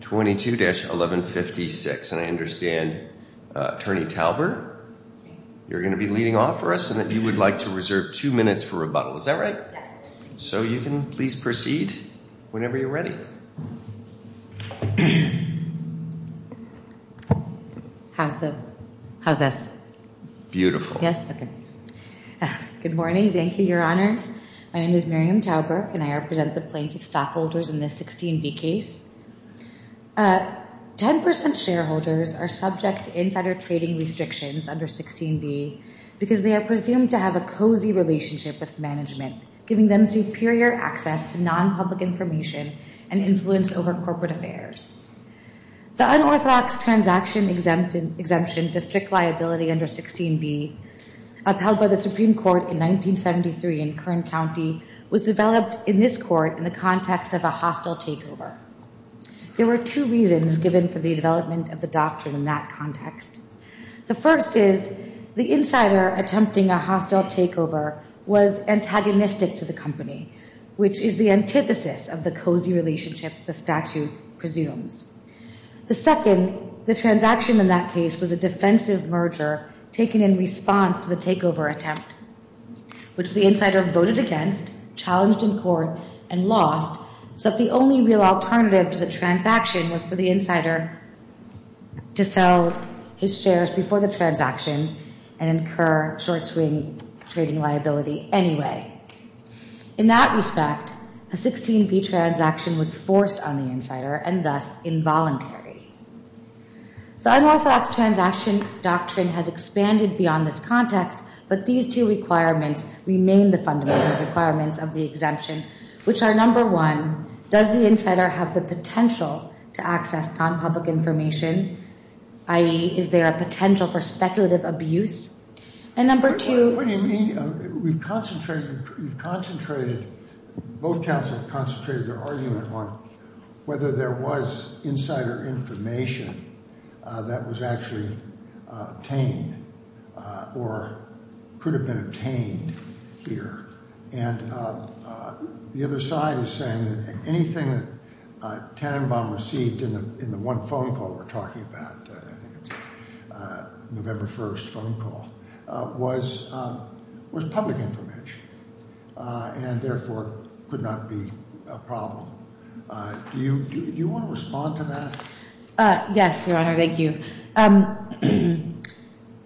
22-1156. And I understand, Attorney Tauber, you're going to be leading off for us and that you would like to reserve two minutes for rebuttal. Is that right? Yes. So you can please proceed whenever you're ready. How's the, how's this? Beautiful. Yes? Okay. Good morning. Thank you, Your Honors. My name is Miriam Tauber, and I am the Attorney General of the U.S. Supreme Court. I'm here to present the plaintiff's stockholders in this 16B case. 10% shareholders are subject to insider trading restrictions under 16B because they are presumed to have a cozy relationship with management, giving them superior access to non-public information and influence over corporate affairs. The unorthodox transaction exemption district liability under 16B, upheld by the Supreme Court in 1973 in Kern County, was developed in this court in the context of a hostile takeover. There were two reasons given for the development of the doctrine in that context. The first is the insider attempting a hostile takeover was antagonistic to the company, which is the antithesis of the cozy relationship the statute presumes. The second, the transaction in that case was a defensive merger taken in response to the takeover attempt, which the insider voted against, challenged in court, and lost, so that the only real alternative to the transaction was for the insider to sell his shares before the transaction and incur short-swing trading liability anyway. In that respect, a 16B transaction was forced on the insider and thus involuntary. The unorthodox transaction doctrine has expanded beyond this context, but these two requirements remain the fundamental requirements of the exemption, which are number one, does the insider have the potential to access non-public information, i.e., is there a potential for speculative abuse? And number two... ...was public information and therefore could not be a problem. Do you want to respond to that? Yes, Your Honor, thank you.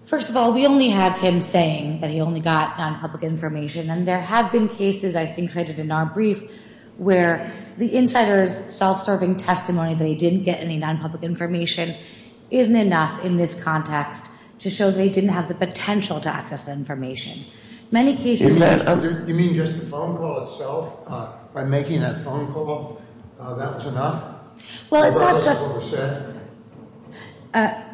First of all, we only have him saying that he only got non-public information, and there have been cases, I think cited in our brief, where the insider's self-serving testimony that he didn't get any non-public information isn't enough in this context to show that he didn't have the potential to access that information. Many cases... You mean just the phone call itself, by making that phone call, that was enough? Well, it's not just...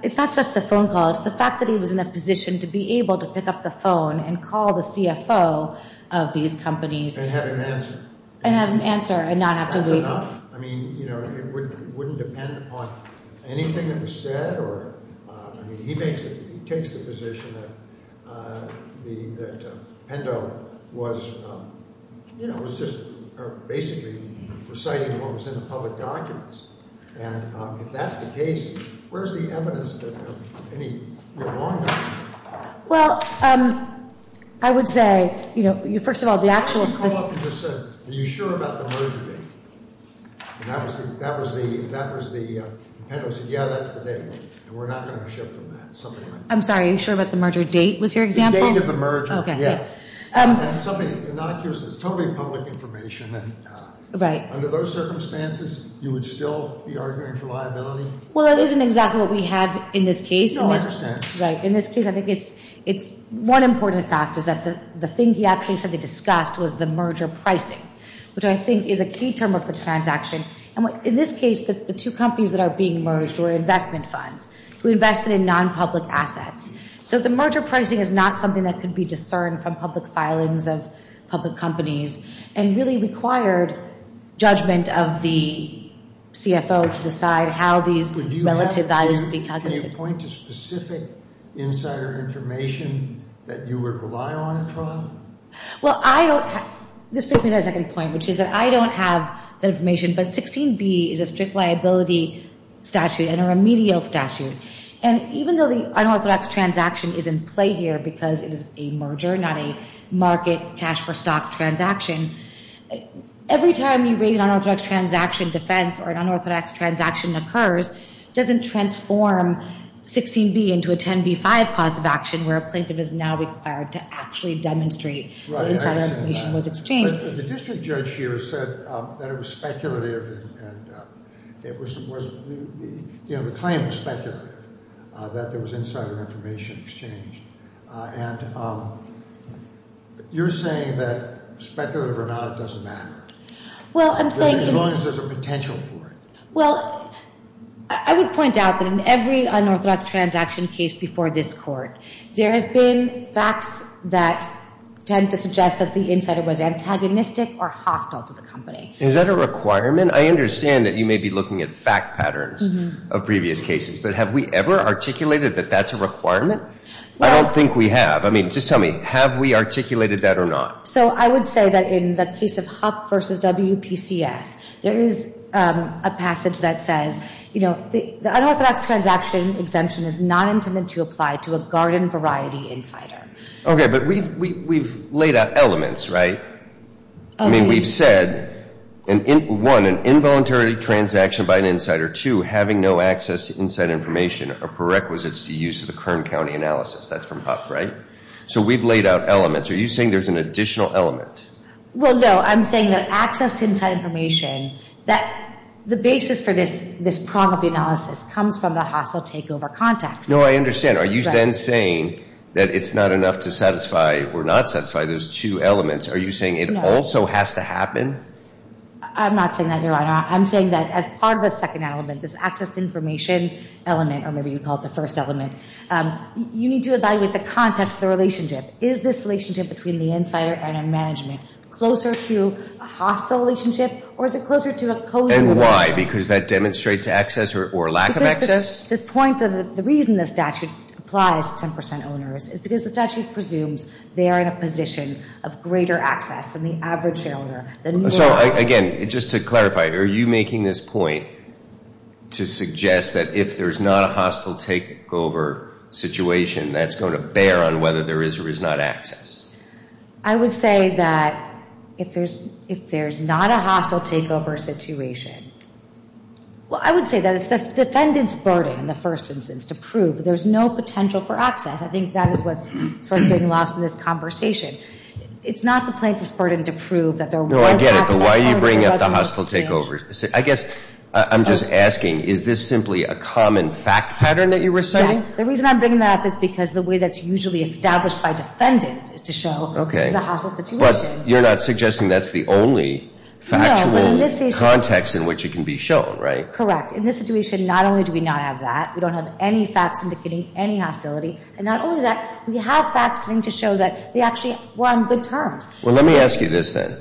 It's not just the phone call. It's the fact that he was in a position to be able to pick up the phone and call the CFO of these companies... And have him answer. And have him answer and not have to wait. That's enough. I mean, you know, it wouldn't depend upon anything that was said or... I mean, he takes the position that Pendo was just basically reciting what was in the public documents. And if that's the case, where's the evidence that any... Well, I would say, you know, first of all, the actual... Are you sure about the merger date? And that was the... Pendo said, yeah, that's the date. And we're not going to shift from that. I'm sorry, are you sure about the merger date was your example? The date of the merger. Okay. Yeah. It's totally public information. Right. Under those circumstances, you would still be arguing for liability? Well, that isn't exactly what we have in this case. Oh, I understand. Right. In this case, I think it's... One important fact is that the thing he actually said they discussed was the merger pricing, which I think is a key term of the transaction. And in this case, the two companies that are being merged were investment funds. We invested in non-public assets. So the merger pricing is not something that could be discerned from public filings of public companies and really required judgment of the CFO to decide how these relative values would be calculated. Can you point to specific insider information that you would rely on in trial? Well, I don't have... This brings me to my second point, which is that I don't have that information. But 16B is a strict liability statute and a remedial statute. And even though the unorthodox transaction is in play here because it is a merger, not a market cash-for-stock transaction, every time you raise an unorthodox transaction defense or an unorthodox transaction occurs, it doesn't transform 16B into a 10B-5 cause of action where a plaintiff is now required to actually demonstrate that insider information was exchanged. But the district judge here said that it was speculative and it was... You know, the claim was speculative, that there was insider information exchanged. And you're saying that speculative or not, it doesn't matter. Well, I'm saying... As long as there's a potential for it. Well, I would point out that in every unorthodox transaction case before this court, there has been facts that tend to suggest that the insider was antagonistic or hostile to the company. Is that a requirement? I understand that you may be looking at fact patterns of previous cases. But have we ever articulated that that's a requirement? I don't think we have. I mean, just tell me, have we articulated that or not? So I would say that in the case of HUP versus WPCS, there is a passage that says, you know, the unorthodox transaction exemption is not intended to apply to a garden variety insider. Okay, but we've laid out elements, right? I mean, we've said, one, an involuntary transaction by an insider. Two, having no access to insider information are prerequisites to use of the Kern County analysis. That's from HUP, right? So we've laid out elements. Are you saying there's an additional element? Well, no, I'm saying that access to insider information, that the basis for this problem of the analysis comes from the hostile takeover context. No, I understand. Are you then saying that it's not enough to satisfy or not satisfy those two elements? Are you saying it also has to happen? I'm not saying that, Your Honor. I'm saying that as part of the second element, this access to information element, or maybe you call it the first element, you need to evaluate the context, the relationship. Is this relationship between the insider and a management closer to a hostile relationship or is it closer to a cozy relationship? And why? Because that demonstrates access or lack of access? Because the point of the reason the statute applies to 10% owners is because the statute presumes they are in a position of greater access than the average shareholder. So, again, just to clarify, are you making this point to suggest that if there's not a hostile takeover situation, that's going to bear on whether there is or is not access? I would say that if there's not a hostile takeover situation, well, I would say that it's the defendant's burden in the first instance to prove that there's no potential for access. I think that is what's sort of being lost in this conversation. It's not the plaintiff's burden to prove that there was access. No, I get it, but why are you bringing up the hostile takeover? I guess I'm just asking, is this simply a common fact pattern that you're reciting? The reason I'm bringing that up is because the way that's usually established by defendants is to show this is a hostile situation. But you're not suggesting that's the only factual context in which it can be shown, right? Correct. In this situation, not only do we not have that, we don't have any facts indicating any hostility, and not only that, we have facts to show that they actually were on good terms. Well, let me ask you this, then.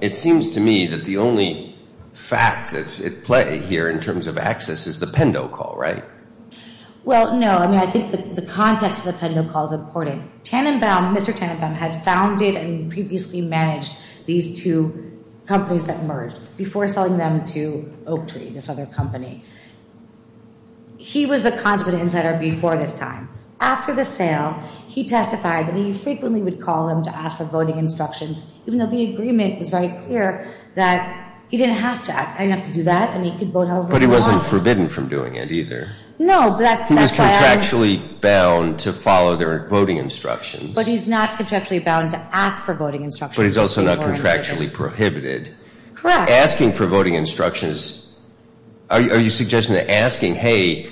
It seems to me that the only fact that's at play here in terms of access is the Pendo call, right? Well, no. I mean, I think the context of the Pendo call is important. Tanenbaum, Mr. Tanenbaum, had founded and previously managed these two companies that merged before selling them to Oak Tree, this other company. He was the consolidated insider before this time. After the sale, he testified that he frequently would call them to ask for voting instructions, even though the agreement was very clear that he didn't have to act. I didn't have to do that, and he could vote however he wanted. But he wasn't forbidden from doing it, either. No. He was contractually bound to follow their voting instructions. But he's not contractually bound to ask for voting instructions. But he's also not contractually prohibited. Correct. Asking for voting instructions, are you suggesting that asking, hey,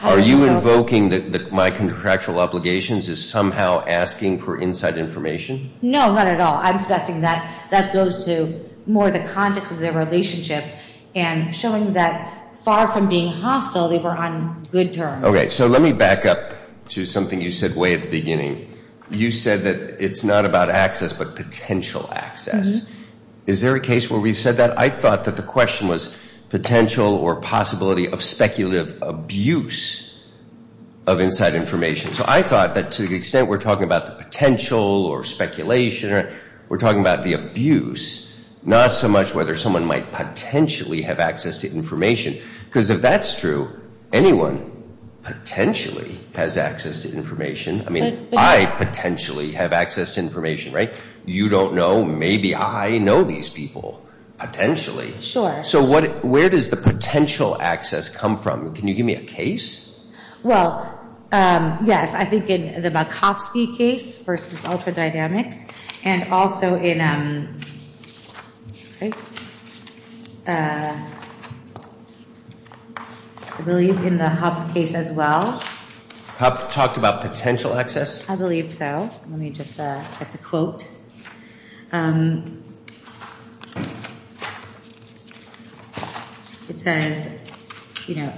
are you invoking that my contractual obligations is somehow asking for inside information? No, not at all. I'm suggesting that that goes to more the context of their relationship and showing that far from being hostile, they were on good terms. Okay. So let me back up to something you said way at the beginning. You said that it's not about access but potential access. Is there a case where we've said that? I thought that the question was potential or possibility of speculative abuse of inside information. So I thought that to the extent we're talking about the potential or speculation, we're talking about the abuse, not so much whether someone might potentially have access to information. Because if that's true, anyone potentially has access to information. I mean, I potentially have access to information, right? You don't know. Maybe I know these people, potentially. Sure. So where does the potential access come from? Can you give me a case? Well, yes, I think in the Makovsky case versus Ultradynamics and also in, I believe, in the Hub case as well. Hub talked about potential access? I believe so. Let me just get the quote. It says, you know,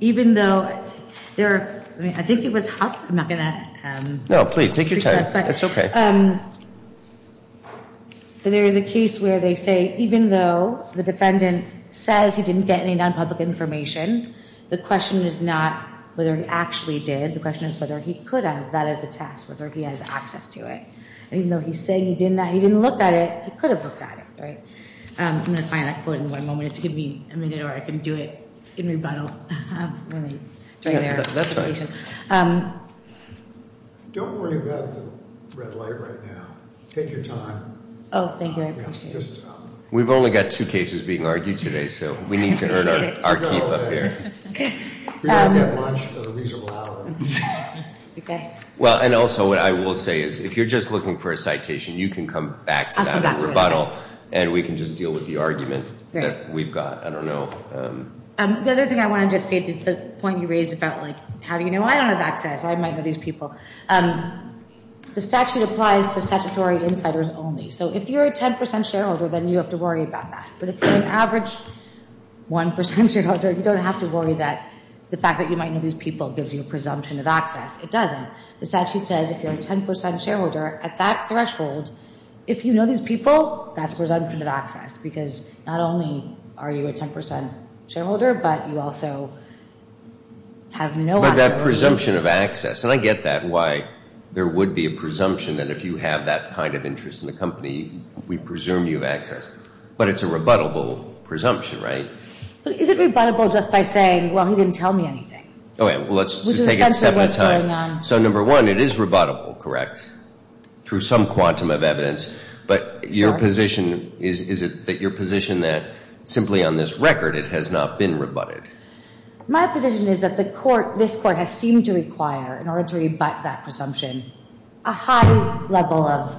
even though there are, I mean, I think it was Hub. I'm not going to. No, please, take your time. It's okay. There is a case where they say even though the defendant says he didn't get any non-public information, the question is not whether he actually did. The question is whether he could have. That is the test, whether he has access to it. Even though he's saying he didn't, he didn't look at it, he could have looked at it, right? I'm going to find that quote in one moment. If you give me a minute or I can do it in rebuttal. That's fine. Don't worry about the red light right now. Take your time. Oh, thank you. I appreciate it. We've only got two cases being argued today, so we need to earn our keep up here. We're going to have lunch at a reasonable hour. Okay. Well, and also what I will say is if you're just looking for a citation, you can come back to that in rebuttal. And we can just deal with the argument that we've got. I don't know. The other thing I want to just say to the point you raised about, like, how do you know? I don't have access. I might know these people. The statute applies to statutory insiders only. So if you're a 10% shareholder, then you have to worry about that. But if you're an average 1% shareholder, you don't have to worry that the fact that you might know these people gives you a presumption of access. It doesn't. The statute says if you're a 10% shareholder, at that threshold, if you know these people, that's presumption of access. Because not only are you a 10% shareholder, but you also have no access. But that presumption of access, and I get that, why there would be a presumption that if you have that kind of interest in the company, we presume you have access. But it's a rebuttable presumption, right? But is it rebuttable just by saying, well, he didn't tell me anything? Okay, well, let's just take it seven at a time. Which is essentially what's going on. So number one, it is rebuttable, correct, through some quantum of evidence. But your position, is it that your position that simply on this record, it has not been rebutted? My position is that the court, this court, has seemed to require, in order to rebut that presumption, a high level of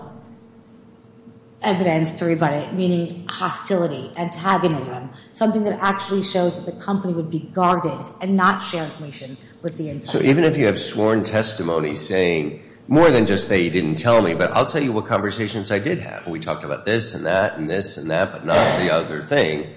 evidence to rebut it. Meaning hostility, antagonism, something that actually shows that the company would be guarded and not share information with the insider. So even if you have sworn testimony saying, more than just that you didn't tell me, but I'll tell you what conversations I did have. We talked about this and that and this and that, but not the other thing,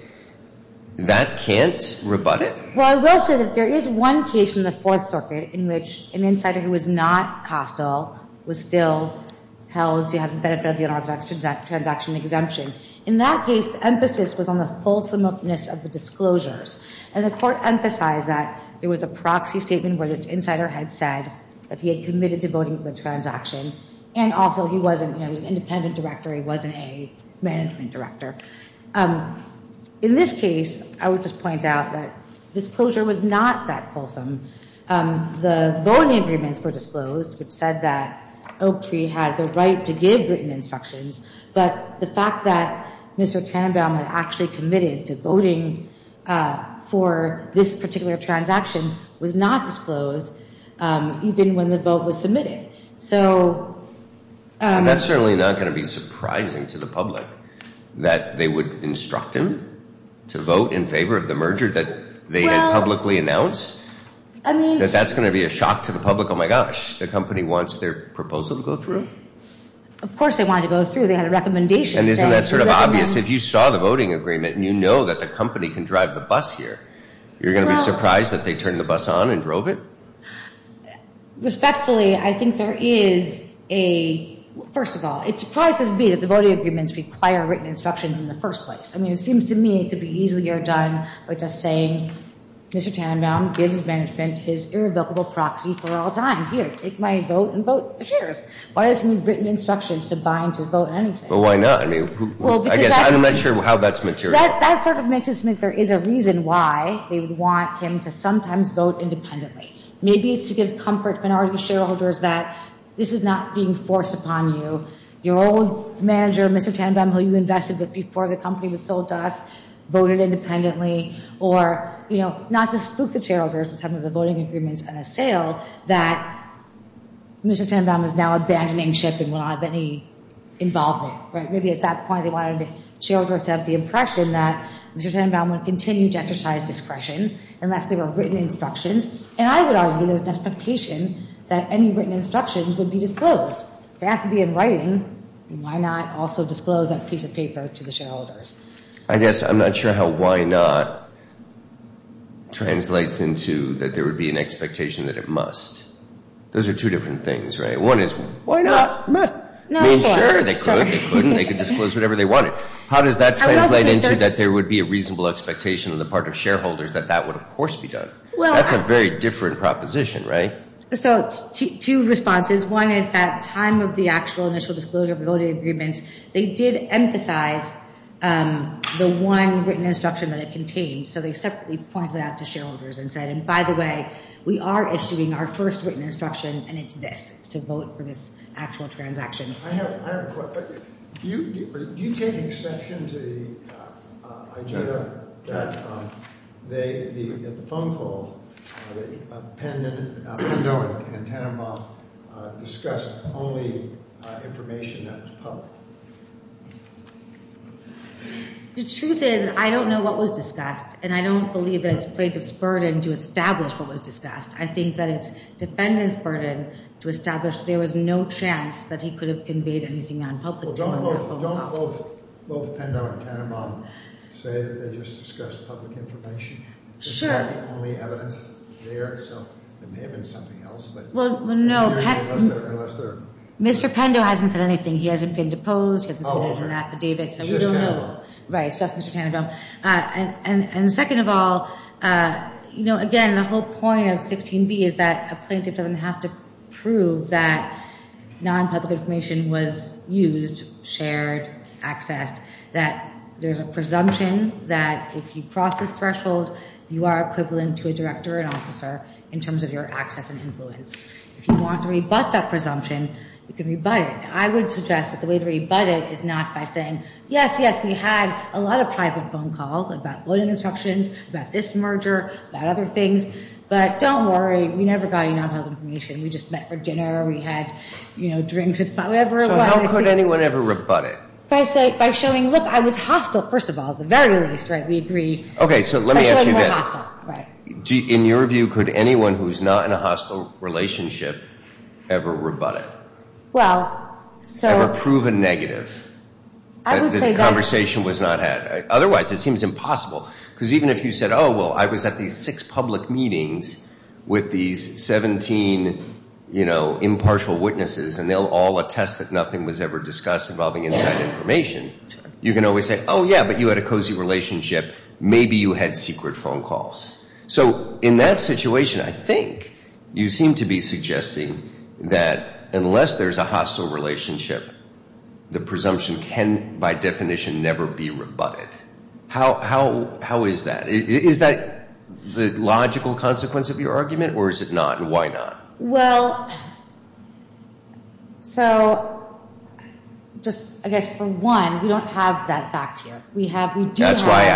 that can't rebut it? Well, I will say that there is one case in the Fourth Circuit in which an insider who was not hostile was still held to have the benefit of the unorthodox transaction exemption. In that case, the emphasis was on the fulsomeness of the disclosures. And the court emphasized that there was a proxy statement where this insider had said that he had committed to voting for the transaction. And also he wasn't, you know, he was an independent director. He wasn't a management director. In this case, I would just point out that disclosure was not that fulsome. The voting agreements were disclosed, which said that Oak Tree had the right to give written instructions. But the fact that Mr. Tannenbaum had actually committed to voting for this particular transaction was not disclosed, even when the vote was submitted. And that's certainly not going to be surprising to the public, that they would instruct him to vote in favor of the merger that they had publicly announced? That that's going to be a shock to the public? Oh, my gosh, the company wants their proposal to go through? Of course they wanted to go through. They had a recommendation. And isn't that sort of obvious? If you saw the voting agreement and you know that the company can drive the bus here, you're going to be surprised that they turned the bus on and drove it? Respectfully, I think there is a, first of all, it surprises me that the voting agreements require written instructions in the first place. I mean, it seems to me it could be easier done by just saying, Mr. Tannenbaum gives management his irrevocable proxy for all time. Here, take my vote and vote. Why does he need written instructions to buy into his vote on anything? Well, why not? I mean, I guess I'm not sure how that's material. That sort of makes it seem like there is a reason why they would want him to sometimes vote independently. Maybe it's to give comfort to minority shareholders that this is not being forced upon you. Your old manager, Mr. Tannenbaum, who you invested with before the company was sold to us, voted independently. Or, you know, not to spook the shareholders with some of the voting agreements at a sale that Mr. Tannenbaum is now abandoning ship and will not have any involvement. Right? Maybe at that point they wanted shareholders to have the impression that Mr. Tannenbaum would continue to exercise discretion unless there were written instructions. And I would argue there's an expectation that any written instructions would be disclosed. They have to be in writing. I guess I'm not sure how why not translates into that there would be an expectation that it must. Those are two different things, right? One is, why not? I mean, sure, they could. They couldn't. They could disclose whatever they wanted. How does that translate into that there would be a reasonable expectation on the part of shareholders that that would, of course, be done? That's a very different proposition, right? So, two responses. One is that time of the actual initial disclosure of the voting agreements, they did emphasize the one written instruction that it contained. So they separately pointed out to shareholders and said, and by the way, we are issuing our first written instruction, and it's this. It's to vote for this actual transaction. I have a question. Do you take exception to the idea that they, at the phone call, that Pendo and Tannenbaum discussed only information that was public? The truth is I don't know what was discussed, and I don't believe that it's plaintiff's burden to establish what was discussed. I think that it's defendant's burden to establish there was no chance that he could have conveyed anything on public data. Well, don't both Pendo and Tannenbaum say that they just discussed public information? Sure. There's not only evidence there, so it may have been something else. Well, no, Mr. Pendo hasn't said anything. He hasn't been deposed. He hasn't submitted an affidavit, so we don't know. It's just Tannenbaum. Right, it's just Mr. Tannenbaum. And second of all, you know, again, the whole point of 16b is that a plaintiff doesn't have to prove that nonpublic information was used, shared, accessed, that there's a presumption that if you cross this threshold, you are equivalent to a director or an officer in terms of your access and influence. If you want to rebut that presumption, you can rebut it. I would suggest that the way to rebut it is not by saying, yes, yes, we had a lot of private phone calls about voting instructions, about this merger, about other things, but don't worry. We never got any nonpublic information. We just met for dinner. We had, you know, drinks, whatever it was. So how could anyone ever rebut it? By showing, look, I was hostile, first of all, at the very least, right? We agree. Okay, so let me ask you this. By showing more hostile, right. In your view, could anyone who's not in a hostile relationship ever rebut it? Well, so. Ever prove a negative? I would say that. That the conversation was not had. Otherwise, it seems impossible. Because even if you said, oh, well, I was at these six public meetings with these 17, you know, impartial witnesses, and they'll all attest that nothing was ever discussed involving inside information, you can always say, oh, yeah, but you had a cozy relationship. Maybe you had secret phone calls. So in that situation, I think you seem to be suggesting that unless there's a hostile relationship, the presumption can, by definition, never be rebutted. How is that? Is that the logical consequence of your argument, or is it not, and why not? Well, so just, I guess, for one, we don't have that fact here. That's why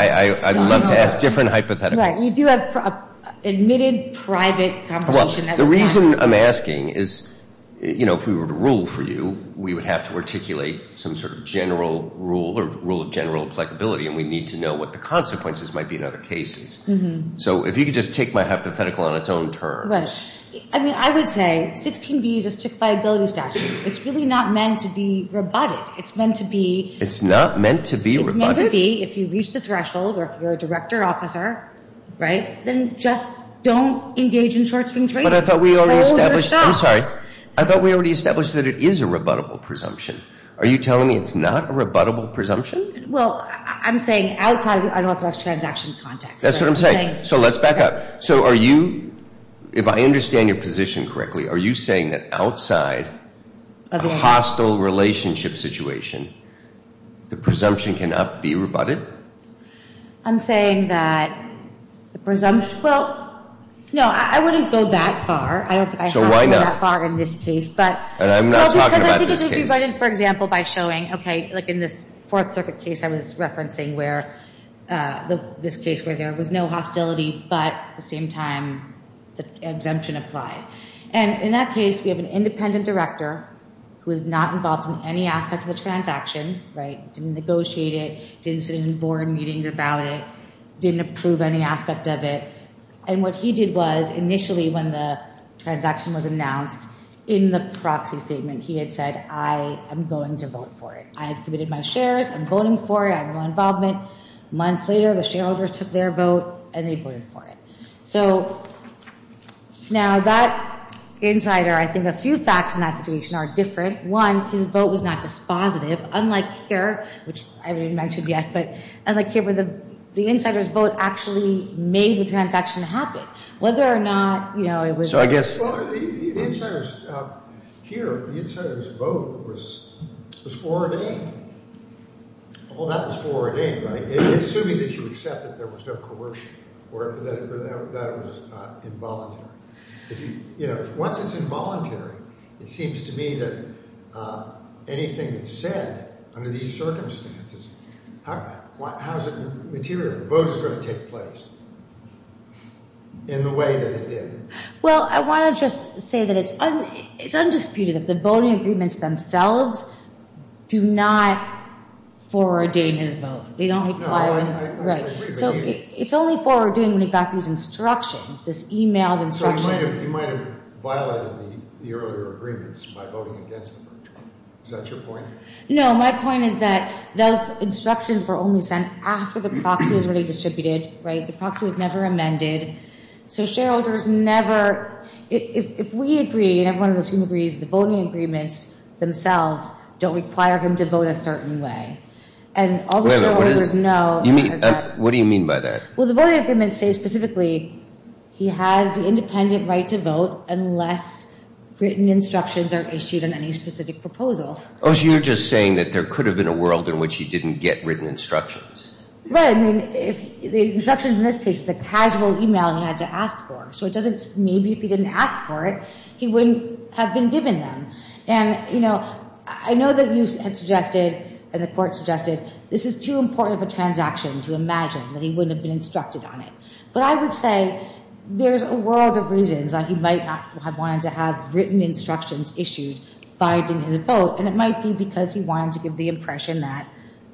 I love to ask different hypotheticals. Right. We do have an admitted private conversation. Well, the reason I'm asking is, you know, if we were to rule for you, we would have to articulate some sort of general rule or rule of general applicability, and we'd need to know what the consequences might be in other cases. So if you could just take my hypothetical on its own terms. Right. I mean, I would say 16B is a stick-by-ability statute. It's really not meant to be rebutted. It's meant to be. It's not meant to be rebutted. It's meant to be if you reach the threshold or if you're a director officer, right, then just don't engage in short-spring trading. But I thought we already established. I'm sorry. I thought we already established that it is a rebuttable presumption. Are you telling me it's not a rebuttable presumption? Well, I'm saying outside of the unauthorized transaction context. That's what I'm saying. So let's back up. So are you, if I understand your position correctly, are you saying that outside of a hostile relationship situation, the presumption cannot be rebutted? I'm saying that the presumption. Well, no, I wouldn't go that far. I don't think I have to go that far in this case. So why not? And I'm not talking about this case. Well, because I think it would be rebutted, for example, by showing, okay, like in this Fourth Circuit case I was referencing where this case where there was no hostility but at the same time the exemption applied. And in that case we have an independent director who is not involved in any aspect of the transaction, right, didn't negotiate it, didn't sit in board meetings about it, didn't approve any aspect of it. And what he did was initially when the transaction was announced, in the proxy statement he had said, I am going to vote for it. I have committed my shares. I'm voting for it. I have no involvement. Months later the shareholders took their vote and they voted for it. So now that insider, I think a few facts in that situation are different. One, his vote was not dispositive. Unlike here, which I haven't even mentioned yet, but unlike here where the insider's vote actually made the transaction happen. Whether or not, you know, it was. So I guess. Well, the insider's here, the insider's vote was foreordained. All that was foreordained, right, assuming that you accept that there was no coercion or that it was involuntary. You know, once it's involuntary, it seems to me that anything that's said under these circumstances, how is it material that the vote is going to take place in the way that it did? Well, I want to just say that it's undisputed that the voting agreements themselves do not foreordain his vote. They don't require. Right. So it's only foreordained when you've got these instructions, this e-mailed instructions. So you might have violated the earlier agreements by voting against them. Is that your point? No, my point is that those instructions were only sent after the proxy was already distributed, right? The proxy was never amended. So shareholders never, if we agree and everyone in this room agrees, the voting agreements themselves don't require him to vote a certain way. Wait a minute. What do you mean by that? Well, the voting agreements say specifically he has the independent right to vote unless written instructions are issued on any specific proposal. Oh, so you're just saying that there could have been a world in which he didn't get written instructions. Right. I mean, the instructions in this case is a casual e-mail he had to ask for. So maybe if he didn't ask for it, he wouldn't have been given them. And, you know, I know that you had suggested and the court suggested this is too important of a transaction to imagine that he wouldn't have been instructed on it. But I would say there's a world of reasons why he might not have wanted to have written instructions issued by getting his vote, and it might be because he wanted to give the impression that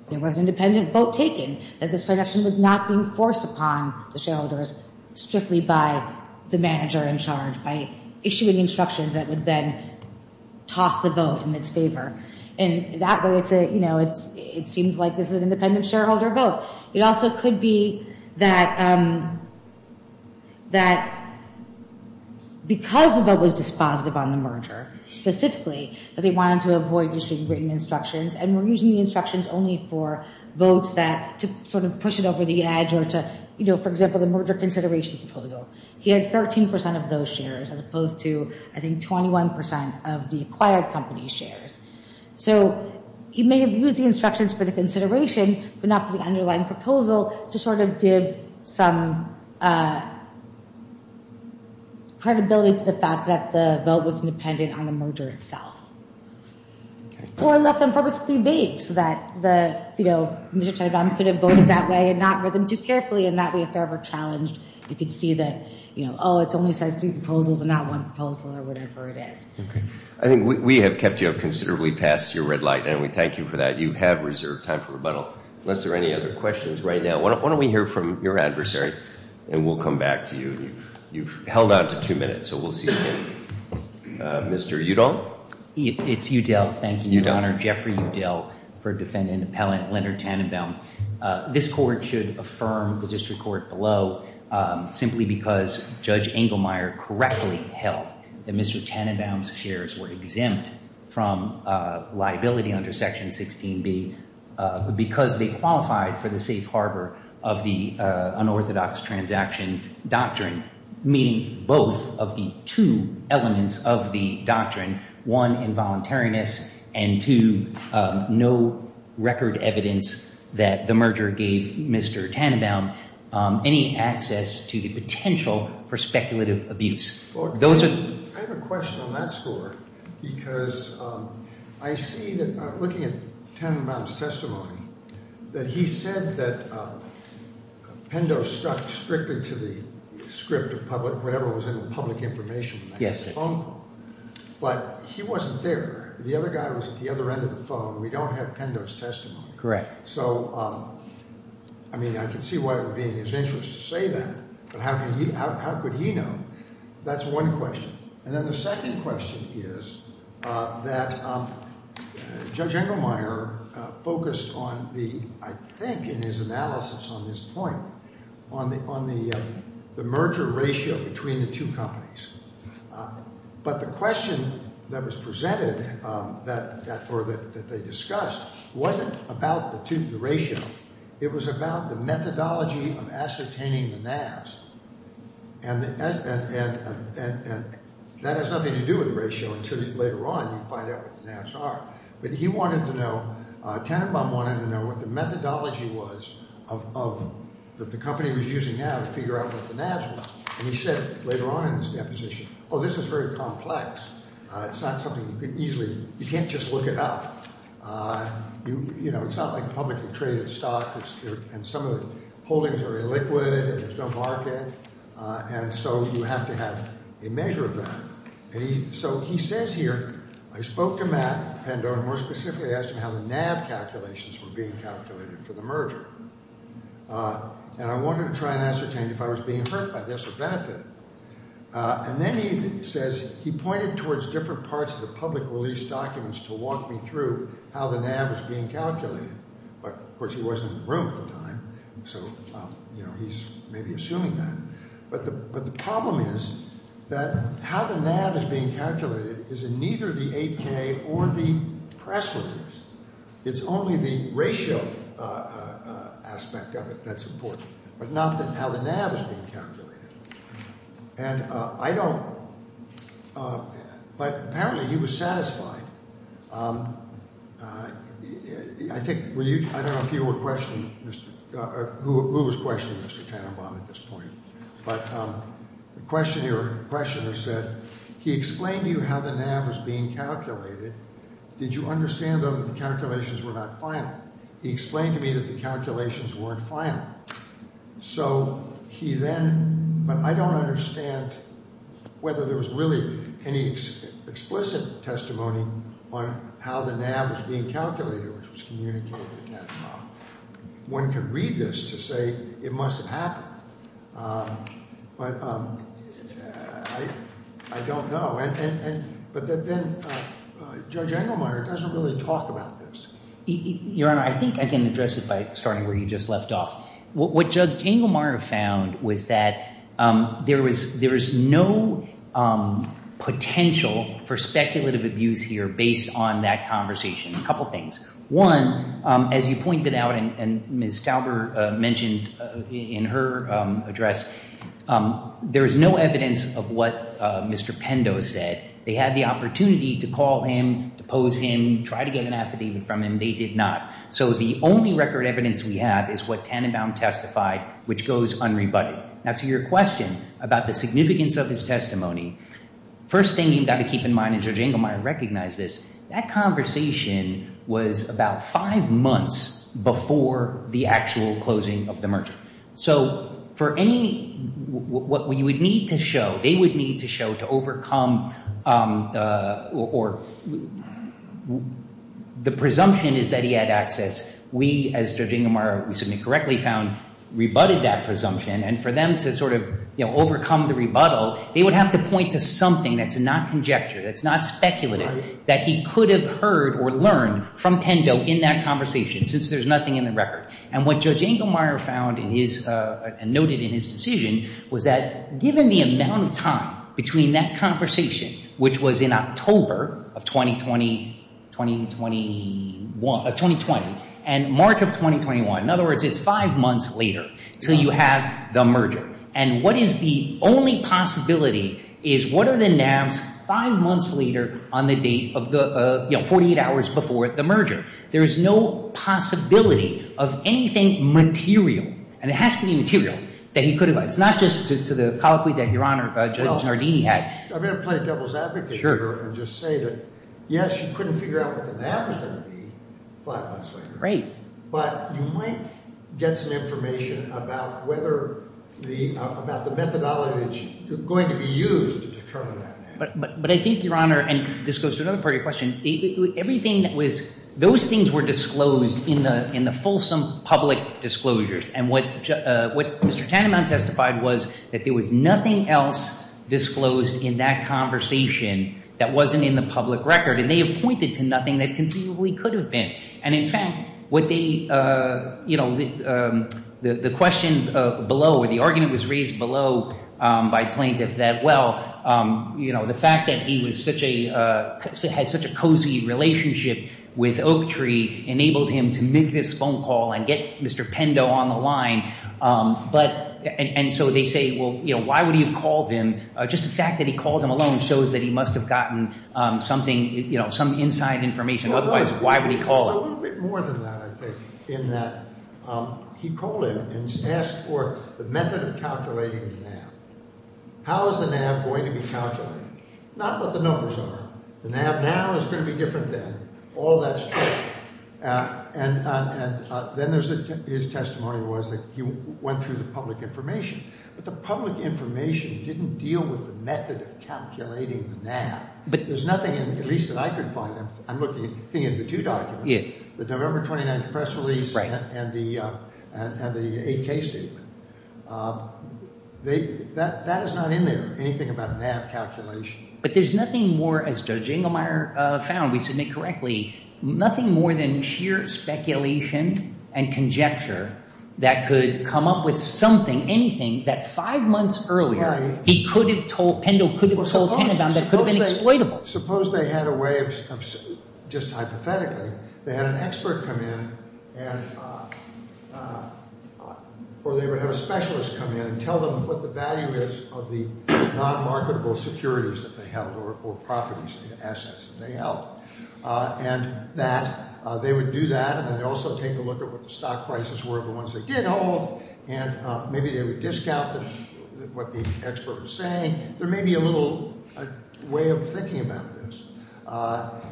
there was an independent vote taken, that this projection was not being forced upon the shareholders strictly by the manager in charge, by issuing instructions that would then toss the vote in its favor. And that way it's a, you know, it seems like this is an independent shareholder vote. It also could be that because the vote was dispositive on the merger specifically, that they wanted to avoid issuing written instructions, and were using the instructions only for votes that to sort of push it over the edge or to, you know, for example, the merger consideration proposal. He had 13% of those shares as opposed to, I think, 21% of the acquired company's shares. So he may have used the instructions for the consideration, but not for the underlying proposal, to sort of give some credibility to the fact that the vote was independent on the merger itself. Or left them purposely vague so that the, you know, Mr. Tenenbaum could have voted that way and not read them too carefully, and that way if ever challenged, you could see that, you know, oh, it only says two proposals and not one proposal or whatever it is. I think we have kept you up considerably past your red light, and we thank you for that. You have reserved time for rebuttal. Unless there are any other questions right now, why don't we hear from your adversary, and we'll come back to you. You've held on to two minutes, so we'll see you again. Mr. Udall? It's Udall. Thank you, Your Honor. I'm Jeffrey Udall for defendant and appellant Leonard Tenenbaum. This court should affirm the district court below simply because Judge Engelmeyer correctly held that Mr. Tenenbaum's shares were exempt from liability under Section 16B because they qualified for the safe harbor of the unorthodox transaction doctrine, meaning both of the two elements of the doctrine, one, involuntariness, and two, no record evidence that the merger gave Mr. Tenenbaum any access to the potential for speculative abuse. I have a question on that score because I see that looking at Tenenbaum's testimony, that he said that Pendo stuck strictly to the script of public, whatever was in the public information, the phone call. But he wasn't there. The other guy was at the other end of the phone. We don't have Pendo's testimony. Correct. So, I mean, I can see why it would be in his interest to say that, but how could he know? That's one question. And then the second question is that Judge Engelmeyer focused on the, I think, in his analysis on this point, on the merger ratio between the two companies. But the question that was presented or that they discussed wasn't about the ratio. It was about the methodology of ascertaining the NAVs. And that has nothing to do with the ratio until later on you find out what the NAVs are. But he wanted to know, Tenenbaum wanted to know what the methodology was of, that the company was using now to figure out what the NAVs were. And he said later on in his deposition, oh, this is very complex. It's not something you could easily, you can't just look it up. You know, it's not like publicly traded stock, and some of the holdings are illiquid, and there's no market, and so you have to have a measure of that. So he says here, I spoke to Matt Pendo, and more specifically asked him how the NAV calculations were being calculated for the merger. And I wanted to try and ascertain if I was being hurt by this or benefited. And then he says he pointed towards different parts of the public release documents to walk me through how the NAV was being calculated. But, of course, he wasn't in the room at the time, so, you know, he's maybe assuming that. But the problem is that how the NAV is being calculated is in neither the 8K or the press release. It's only the ratio aspect of it that's important, but not how the NAV is being calculated. And I don't, but apparently he was satisfied. I think, I don't know if you were questioning, or who was questioning Mr. Tannenbaum at this point, but the questioner said, he explained to you how the NAV was being calculated. Did you understand, though, that the calculations were not final? He explained to me that the calculations weren't final. So he then, but I don't understand whether there was really any explicit testimony on how the NAV was being calculated, which was communicated to Tannenbaum. One could read this to say it must have happened, but I don't know. And, but then Judge Engelmeyer doesn't really talk about this. Your Honor, I think I can address it by starting where you just left off. What Judge Engelmeyer found was that there was, there is no potential for speculative abuse here based on that conversation. A couple things. One, as you pointed out, and Ms. Stauber mentioned in her address, there is no evidence of what Mr. Pendo said. They had the opportunity to call him, to pose him, try to get an affidavit from him. They did not. So the only record evidence we have is what Tannenbaum testified, which goes unrebutted. Now, to your question about the significance of his testimony, first thing you've got to keep in mind, and Judge Engelmeyer recognized this, that conversation was about five months before the actual closing of the merger. So for any, what we would need to show, they would need to show to overcome, or the presumption is that he had access. We, as Judge Engelmeyer, we submit correctly found, rebutted that presumption. And for them to sort of, you know, overcome the rebuttal, they would have to point to something that's not conjecture, that's not speculative, that he could have heard or learned from Pendo in that conversation, since there's nothing in the record. And what Judge Engelmeyer found in his, and noted in his decision, was that given the amount of time between that conversation, which was in October of 2020 and March of 2021, in other words, it's five months later until you have the merger. And what is the only possibility is what are the nabs five months later on the date of the, you know, 48 hours before the merger. There is no possibility of anything material. And it has to be material that he could have. It's not just to the colloquy that Your Honor, Judge Nardini had. Well, I'm going to play devil's advocate here and just say that, yes, you couldn't figure out what the nab was going to be five months later. Right. But you might get some information about whether the, about the methodology that's going to be used to determine that. But I think, Your Honor, and this goes to another part of your question, everything that was, those things were disclosed in the, in the fulsome public disclosures. And what Mr. Tannenbaum testified was that there was nothing else disclosed in that conversation that wasn't in the public record. And they have pointed to nothing that conceivably could have been. And, in fact, what they, you know, the question below, or the argument was raised below by plaintiff that, well, you know, the fact that he was such a, had such a cozy relationship with Oak Tree enabled him to make this phone call and get Mr. Pendo on the line. But, and so they say, well, you know, why would he have called him? Just the fact that he called him alone shows that he must have gotten something, you know, some inside information. Otherwise, why would he call? It's a little bit more than that, I think, in that he called him and asked for the method of calculating the nab. How is the nab going to be calculated? Not what the numbers are. The nab now is going to be different than all that's true. And then there's, his testimony was that he went through the public information. But the public information didn't deal with the method of calculating the nab. But there's nothing in, at least that I could find, I'm looking at the thing in the two documents. Yeah. The November 29th press release. Right. And the, and the 8K statement. That is not in there, anything about nab calculation. But there's nothing more, as Judge Inglemeyer found, we submit correctly, nothing more than sheer speculation and conjecture that could come up with something, anything, that five months earlier he could have told, Pendo could have told Tannebaum that could have been exploitable. Well, suppose they had a way of, just hypothetically, they had an expert come in and, or they would have a specialist come in and tell them what the value is of the non-marketable securities that they held or properties and assets that they held. And that, they would do that and also take a look at what the stock prices were of the ones they did hold. And maybe they would discount what the expert was saying. There may be a little way of thinking about this.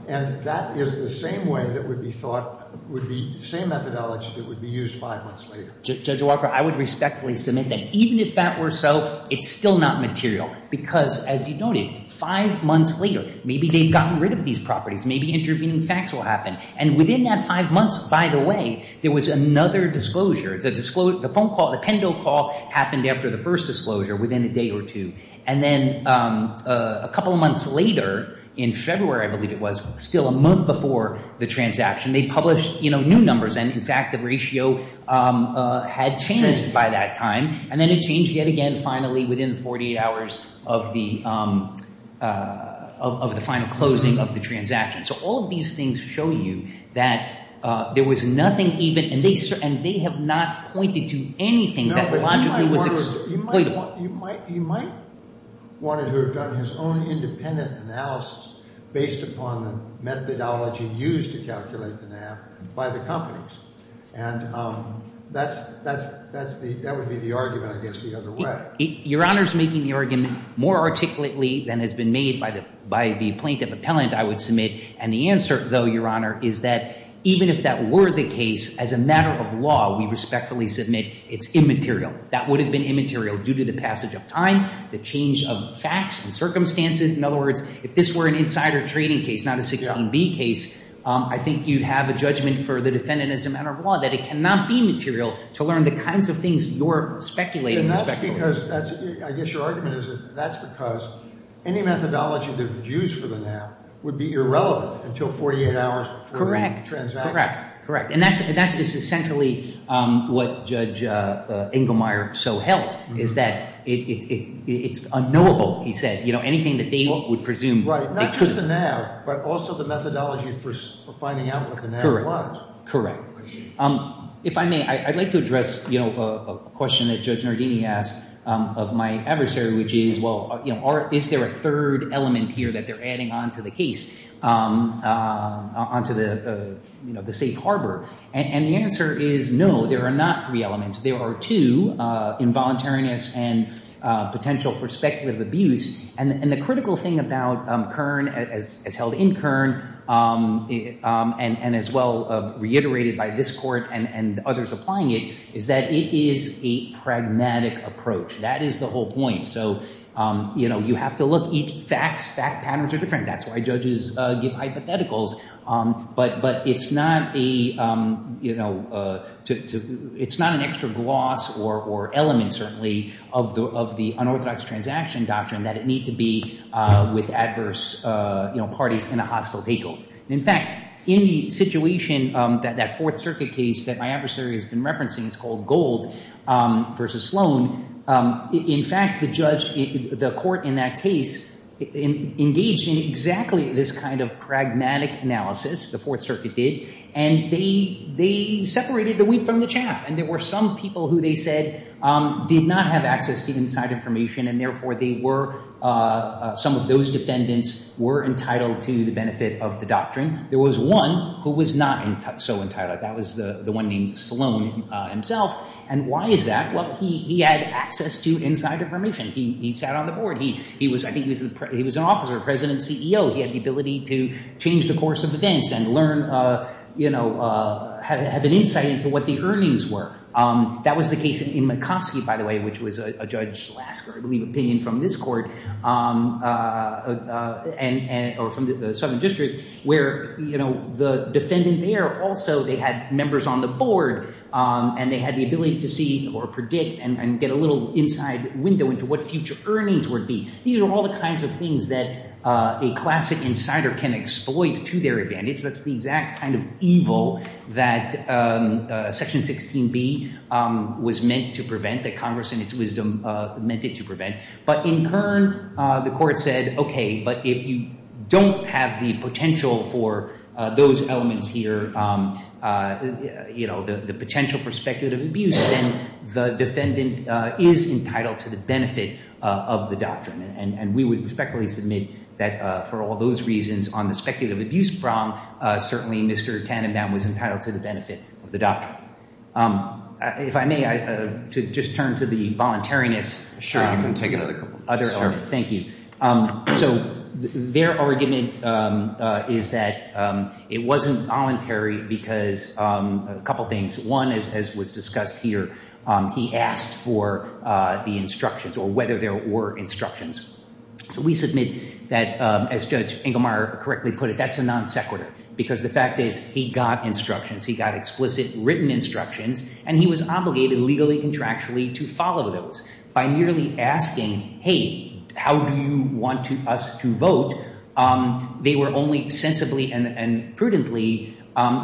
And that is the same way that would be thought, would be the same methodology that would be used five months later. Judge Walker, I would respectfully submit that even if that were so, it's still not material. Because, as you noted, five months later, maybe they've gotten rid of these properties. Maybe intervening facts will happen. And within that five months, by the way, there was another disclosure. The phone call, the Pendo call happened after the first disclosure within a day or two. And then a couple of months later, in February, I believe it was, still a month before the transaction, they published, you know, new numbers. And, in fact, the ratio had changed by that time. And then it changed yet again finally within 48 hours of the final closing of the transaction. So all of these things show you that there was nothing even, and they have not pointed to anything that logically was exploitable. He might want to have done his own independent analysis based upon the methodology used to calculate the NAB by the companies. And that would be the argument, I guess, the other way. Your Honor's making the argument more articulately than has been made by the plaintiff appellant, I would submit. And the answer, though, Your Honor, is that even if that were the case, as a matter of law, we respectfully submit it's immaterial. That would have been immaterial due to the passage of time, the change of facts and circumstances. In other words, if this were an insider trading case, not a 16B case, I think you'd have a judgment for the defendant, as a matter of law, that it cannot be material to learn the kinds of things you're speculating. And that's because, I guess your argument is that that's because any methodology that was used for the NAB would be irrelevant until 48 hours before the transaction. Correct. Correct. And that's essentially what Judge Inglemeyer so held, is that it's unknowable, he said, anything that they would presume. Right. Not just the NAB, but also the methodology for finding out what the NAB was. Correct. If I may, I'd like to address a question that Judge Nardini asked of my adversary, which is, well, is there a third element here that they're adding onto the case, onto the safe harbor? And the answer is no, there are not three elements. There are two, involuntariness and potential for speculative abuse. And the critical thing about Kern, as held in Kern, and as well reiterated by this court and others applying it, is that it is a pragmatic approach. That is the whole point. So, you know, you have to look, facts, fact patterns are different. That's why judges give hypotheticals. But it's not an extra gloss or element, certainly, of the unorthodox transaction doctrine that it need to be with adverse parties in a hostile takeover. In fact, in the situation, that Fourth Circuit case that my adversary has been referencing, it's called Gold v. Sloan. In fact, the judge, the court in that case engaged in exactly this kind of pragmatic analysis, the Fourth Circuit did, and they separated the wheat from the chaff. And there were some people who they said did not have access to inside information, and therefore they were, some of those defendants were entitled to the benefit of the doctrine. There was one who was not so entitled. That was the one named Sloan himself. And why is that? Well, he had access to inside information. He sat on the board. He was, I think, he was an officer, president and CEO. He had the ability to change the course of events and learn, you know, have an insight into what the earnings were. That was the case in McCoskey, by the way, which was a Judge Lasker, I believe, opinion from this court or from the Southern District where, you know, the defendant there also, they had members on the board. And they had the ability to see or predict and get a little inside window into what future earnings would be. These are all the kinds of things that a classic insider can exploit to their advantage. That's the exact kind of evil that Section 16B was meant to prevent, that Congress in its wisdom meant it to prevent. But in turn, the court said, okay, but if you don't have the potential for those elements here, you know, the potential for speculative abuse, then the defendant is entitled to the benefit of the doctrine. And we would respectfully submit that for all those reasons on the speculative abuse problem, certainly Mr. Tannenbaum was entitled to the benefit of the doctrine. If I may, to just turn to the voluntariness. Sure, you can take another couple. Thank you. So their argument is that it wasn't voluntary because a couple things. One, as was discussed here, he asked for the instructions or whether there were instructions. So we submit that, as Judge Inglemeyer correctly put it, that's a non sequitur because the fact is he got instructions. He got explicit written instructions, and he was obligated legally contractually to follow those. By merely asking, hey, how do you want us to vote, they were only sensibly and prudently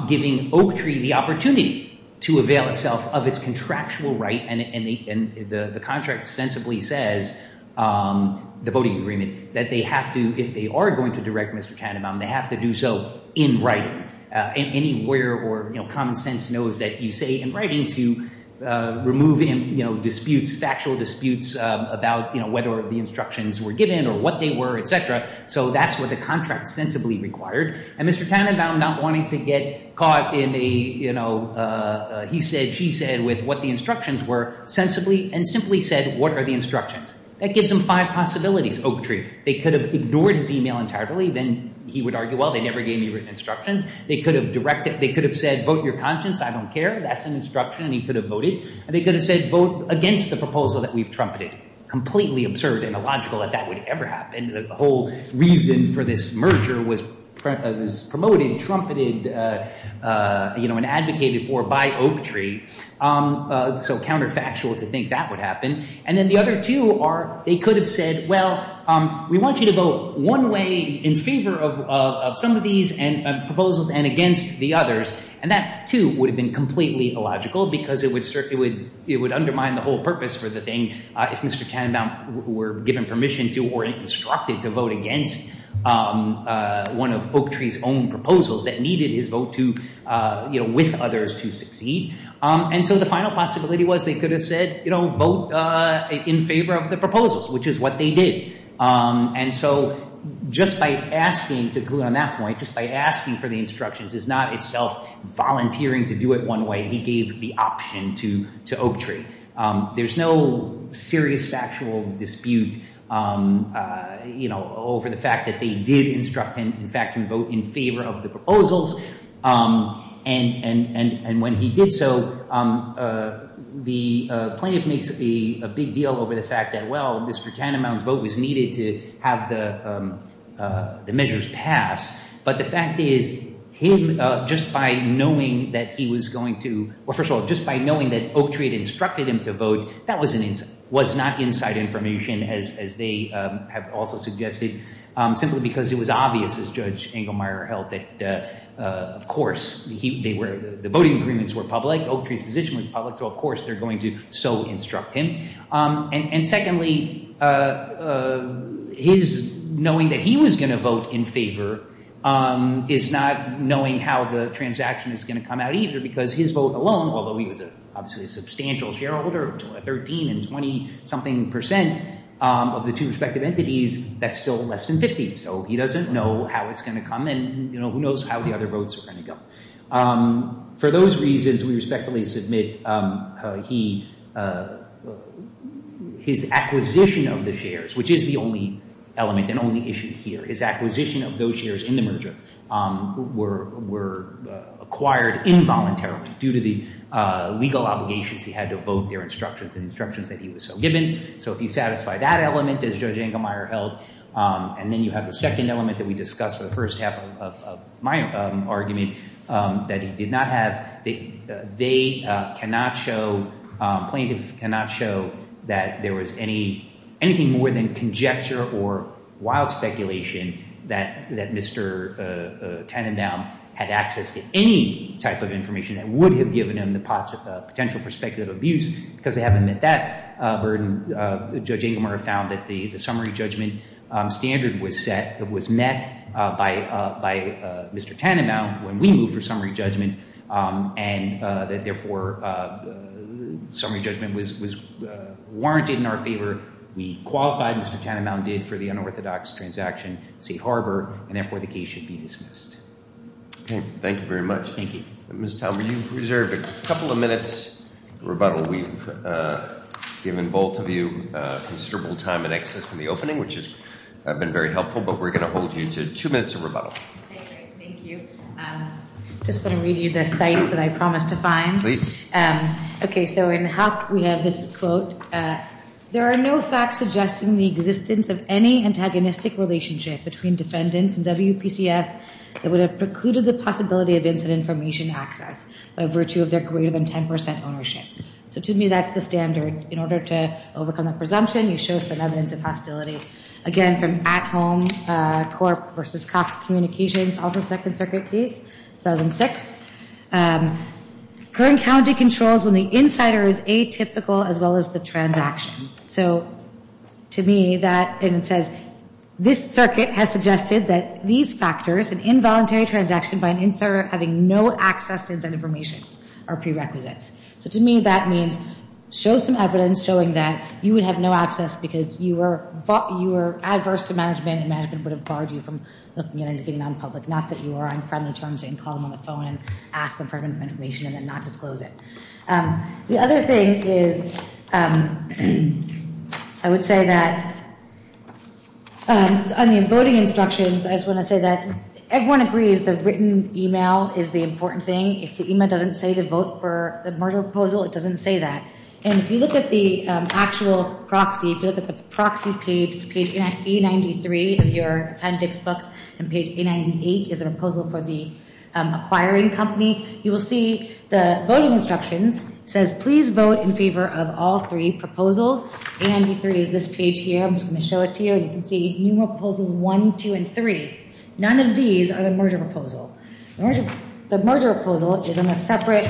giving Oak Tree the opportunity to avail itself of its contractual right. And the contract sensibly says, the voting agreement, that they have to, if they are going to direct Mr. Tannenbaum, they have to do so in writing. Any lawyer or common sense knows that you say in writing to remove, you know, disputes, factual disputes about whether the instructions were given or what they were, et cetera. So that's what the contract sensibly required. And Mr. Tannenbaum not wanting to get caught in a, you know, he said, she said with what the instructions were sensibly and simply said, what are the instructions? That gives them five possibilities, Oak Tree. They could have ignored his email entirely. Then he would argue, well, they never gave me written instructions. They could have directed, they could have said, vote your conscience. I don't care. That's an instruction, and he could have voted. And they could have said, vote against the proposal that we've trumpeted. Completely absurd and illogical that that would ever happen. The whole reason for this merger was promoted, trumpeted, you know, and advocated for by Oak Tree. So counterfactual to think that would happen. And then the other two are they could have said, well, we want you to vote one way in favor of some of these proposals and against the others. And that, too, would have been completely illogical because it would undermine the whole purpose for the thing if Mr. Tannenbaum were given permission to or instructed to vote against one of Oak Tree's own proposals that needed his vote to, you know, with others to succeed. And so the final possibility was they could have said, you know, vote in favor of the proposals, which is what they did. And so just by asking, to conclude on that point, just by asking for the instructions is not itself volunteering to do it one way. He gave the option to Oak Tree. There's no serious factual dispute, you know, over the fact that they did instruct him, in fact, to vote in favor of the proposals. And when he did so, the plaintiff makes a big deal over the fact that, well, Mr. Tannenbaum's vote was needed to have the measures passed. But the fact is him just by knowing that he was going to – well, first of all, just by knowing that Oak Tree had instructed him to vote, that was not inside information, as they have also suggested, simply because it was obvious, as Judge Engelmeyer held, that, of course, the voting agreements were public. Oak Tree's position was public. So, of course, they're going to so instruct him. And secondly, his knowing that he was going to vote in favor is not knowing how the transaction is going to come out either, because his vote alone, although he was obviously a substantial shareholder of 13 and 20-something percent of the two respective entities, that's still less than 50. So he doesn't know how it's going to come, and who knows how the other votes are going to go. For those reasons, we respectfully submit he – his acquisition of the shares, which is the only element and only issue here, his acquisition of those shares in the merger were acquired involuntarily due to the legal obligations he had to vote their instructions and instructions that he was so given. So if you satisfy that element, as Judge Engelmeyer held, and then you have the second element that we discussed for the first half of my argument, that he did not have – they cannot show – plaintiffs cannot show that there was any – anything more than conjecture or wild speculation that Mr. Tannenbaum had access to any type of information that would have given him the potential for speculative abuse, because they haven't met that burden. Judge Engelmeyer found that the summary judgment standard was set – was met by Mr. Tannenbaum when we moved for summary judgment, and that therefore summary judgment was warranted in our favor. We qualified, Mr. Tannenbaum did, for the unorthodox transaction, safe harbor, and therefore the case should be dismissed. Okay. Thank you very much. Thank you. Ms. Talbot, you've reserved a couple of minutes for rebuttal. We've given both of you considerable time and access in the opening, which has been very helpful, but we're going to hold you to two minutes of rebuttal. Thank you. I just want to read you the cites that I promised to find. Please. Okay. So in the hop, we have this quote. There are no facts suggesting the existence of any antagonistic relationship between defendants and WPCS that would have precluded the possibility of incident information access by virtue of their greater than 10 percent ownership. So to me, that's the standard. In order to overcome that presumption, you show some evidence of hostility. Again, from At Home Corp. v. Cox Communications, also Second Circuit case, 2006. Current county controls when the insider is atypical as well as the transaction. So to me, that, and it says, this circuit has suggested that these factors, an involuntary transaction by an insider having no access to incident information, are prerequisites. So to me, that means show some evidence showing that you would have no access because you were adverse to management and management would have barred you from looking at anything nonpublic. Not that you were on friendly terms and call them on the phone and ask them for information and then not disclose it. The other thing is I would say that on the voting instructions, I just want to say that everyone agrees the written email is the important thing. If the email doesn't say to vote for the merger proposal, it doesn't say that. And if you look at the actual proxy, if you look at the proxy page, page A93 of your appendix books, and page A98 is a proposal for the acquiring company, you will see the voting instructions says please vote in favor of all three proposals. A93 is this page here. I'm just going to show it to you. You can see new proposals one, two, and three. None of these are the merger proposal. The merger proposal is on a separate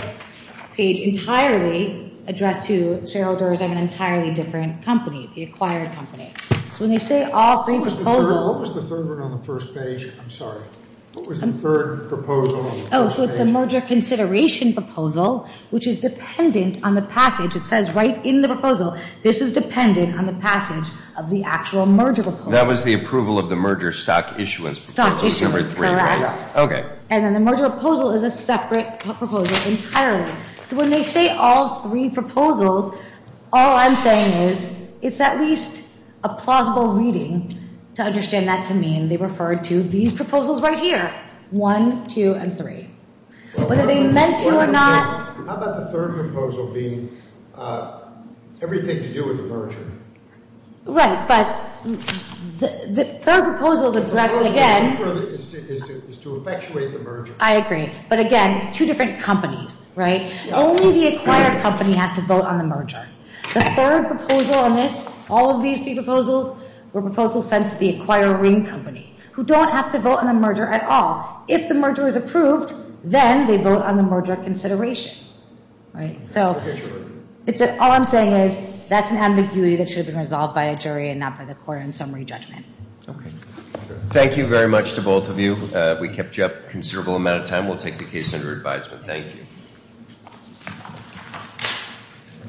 page entirely addressed to shareholders of an entirely different company, the acquired company. So when they say all three proposals. What was the third one on the first page? I'm sorry. What was the third proposal on the first page? Oh, so it's the merger consideration proposal, which is dependent on the passage. It says right in the proposal this is dependent on the passage of the actual merger proposal. That was the approval of the merger stock issuance proposal. Stock issuance. Number three, right? Correct. Okay. And then the merger proposal is a separate proposal entirely. So when they say all three proposals, all I'm saying is it's at least a plausible reading to understand that to mean they refer to these proposals right here, one, two, and three. Whether they meant to or not. How about the third proposal being everything to do with the merger? Right, but the third proposal is addressed again. The third proposal is to effectuate the merger. I agree. But, again, it's two different companies, right? Only the acquired company has to vote on the merger. The third proposal on this, all of these three proposals were proposals sent to the acquiring company, who don't have to vote on the merger at all. If the merger is approved, then they vote on the merger consideration, right? All I'm saying is that's an ambiguity that should have been resolved by a jury and not by the court in summary judgment. Okay. Thank you very much to both of you. We kept you up a considerable amount of time. We'll take the case under advisement. Thank you.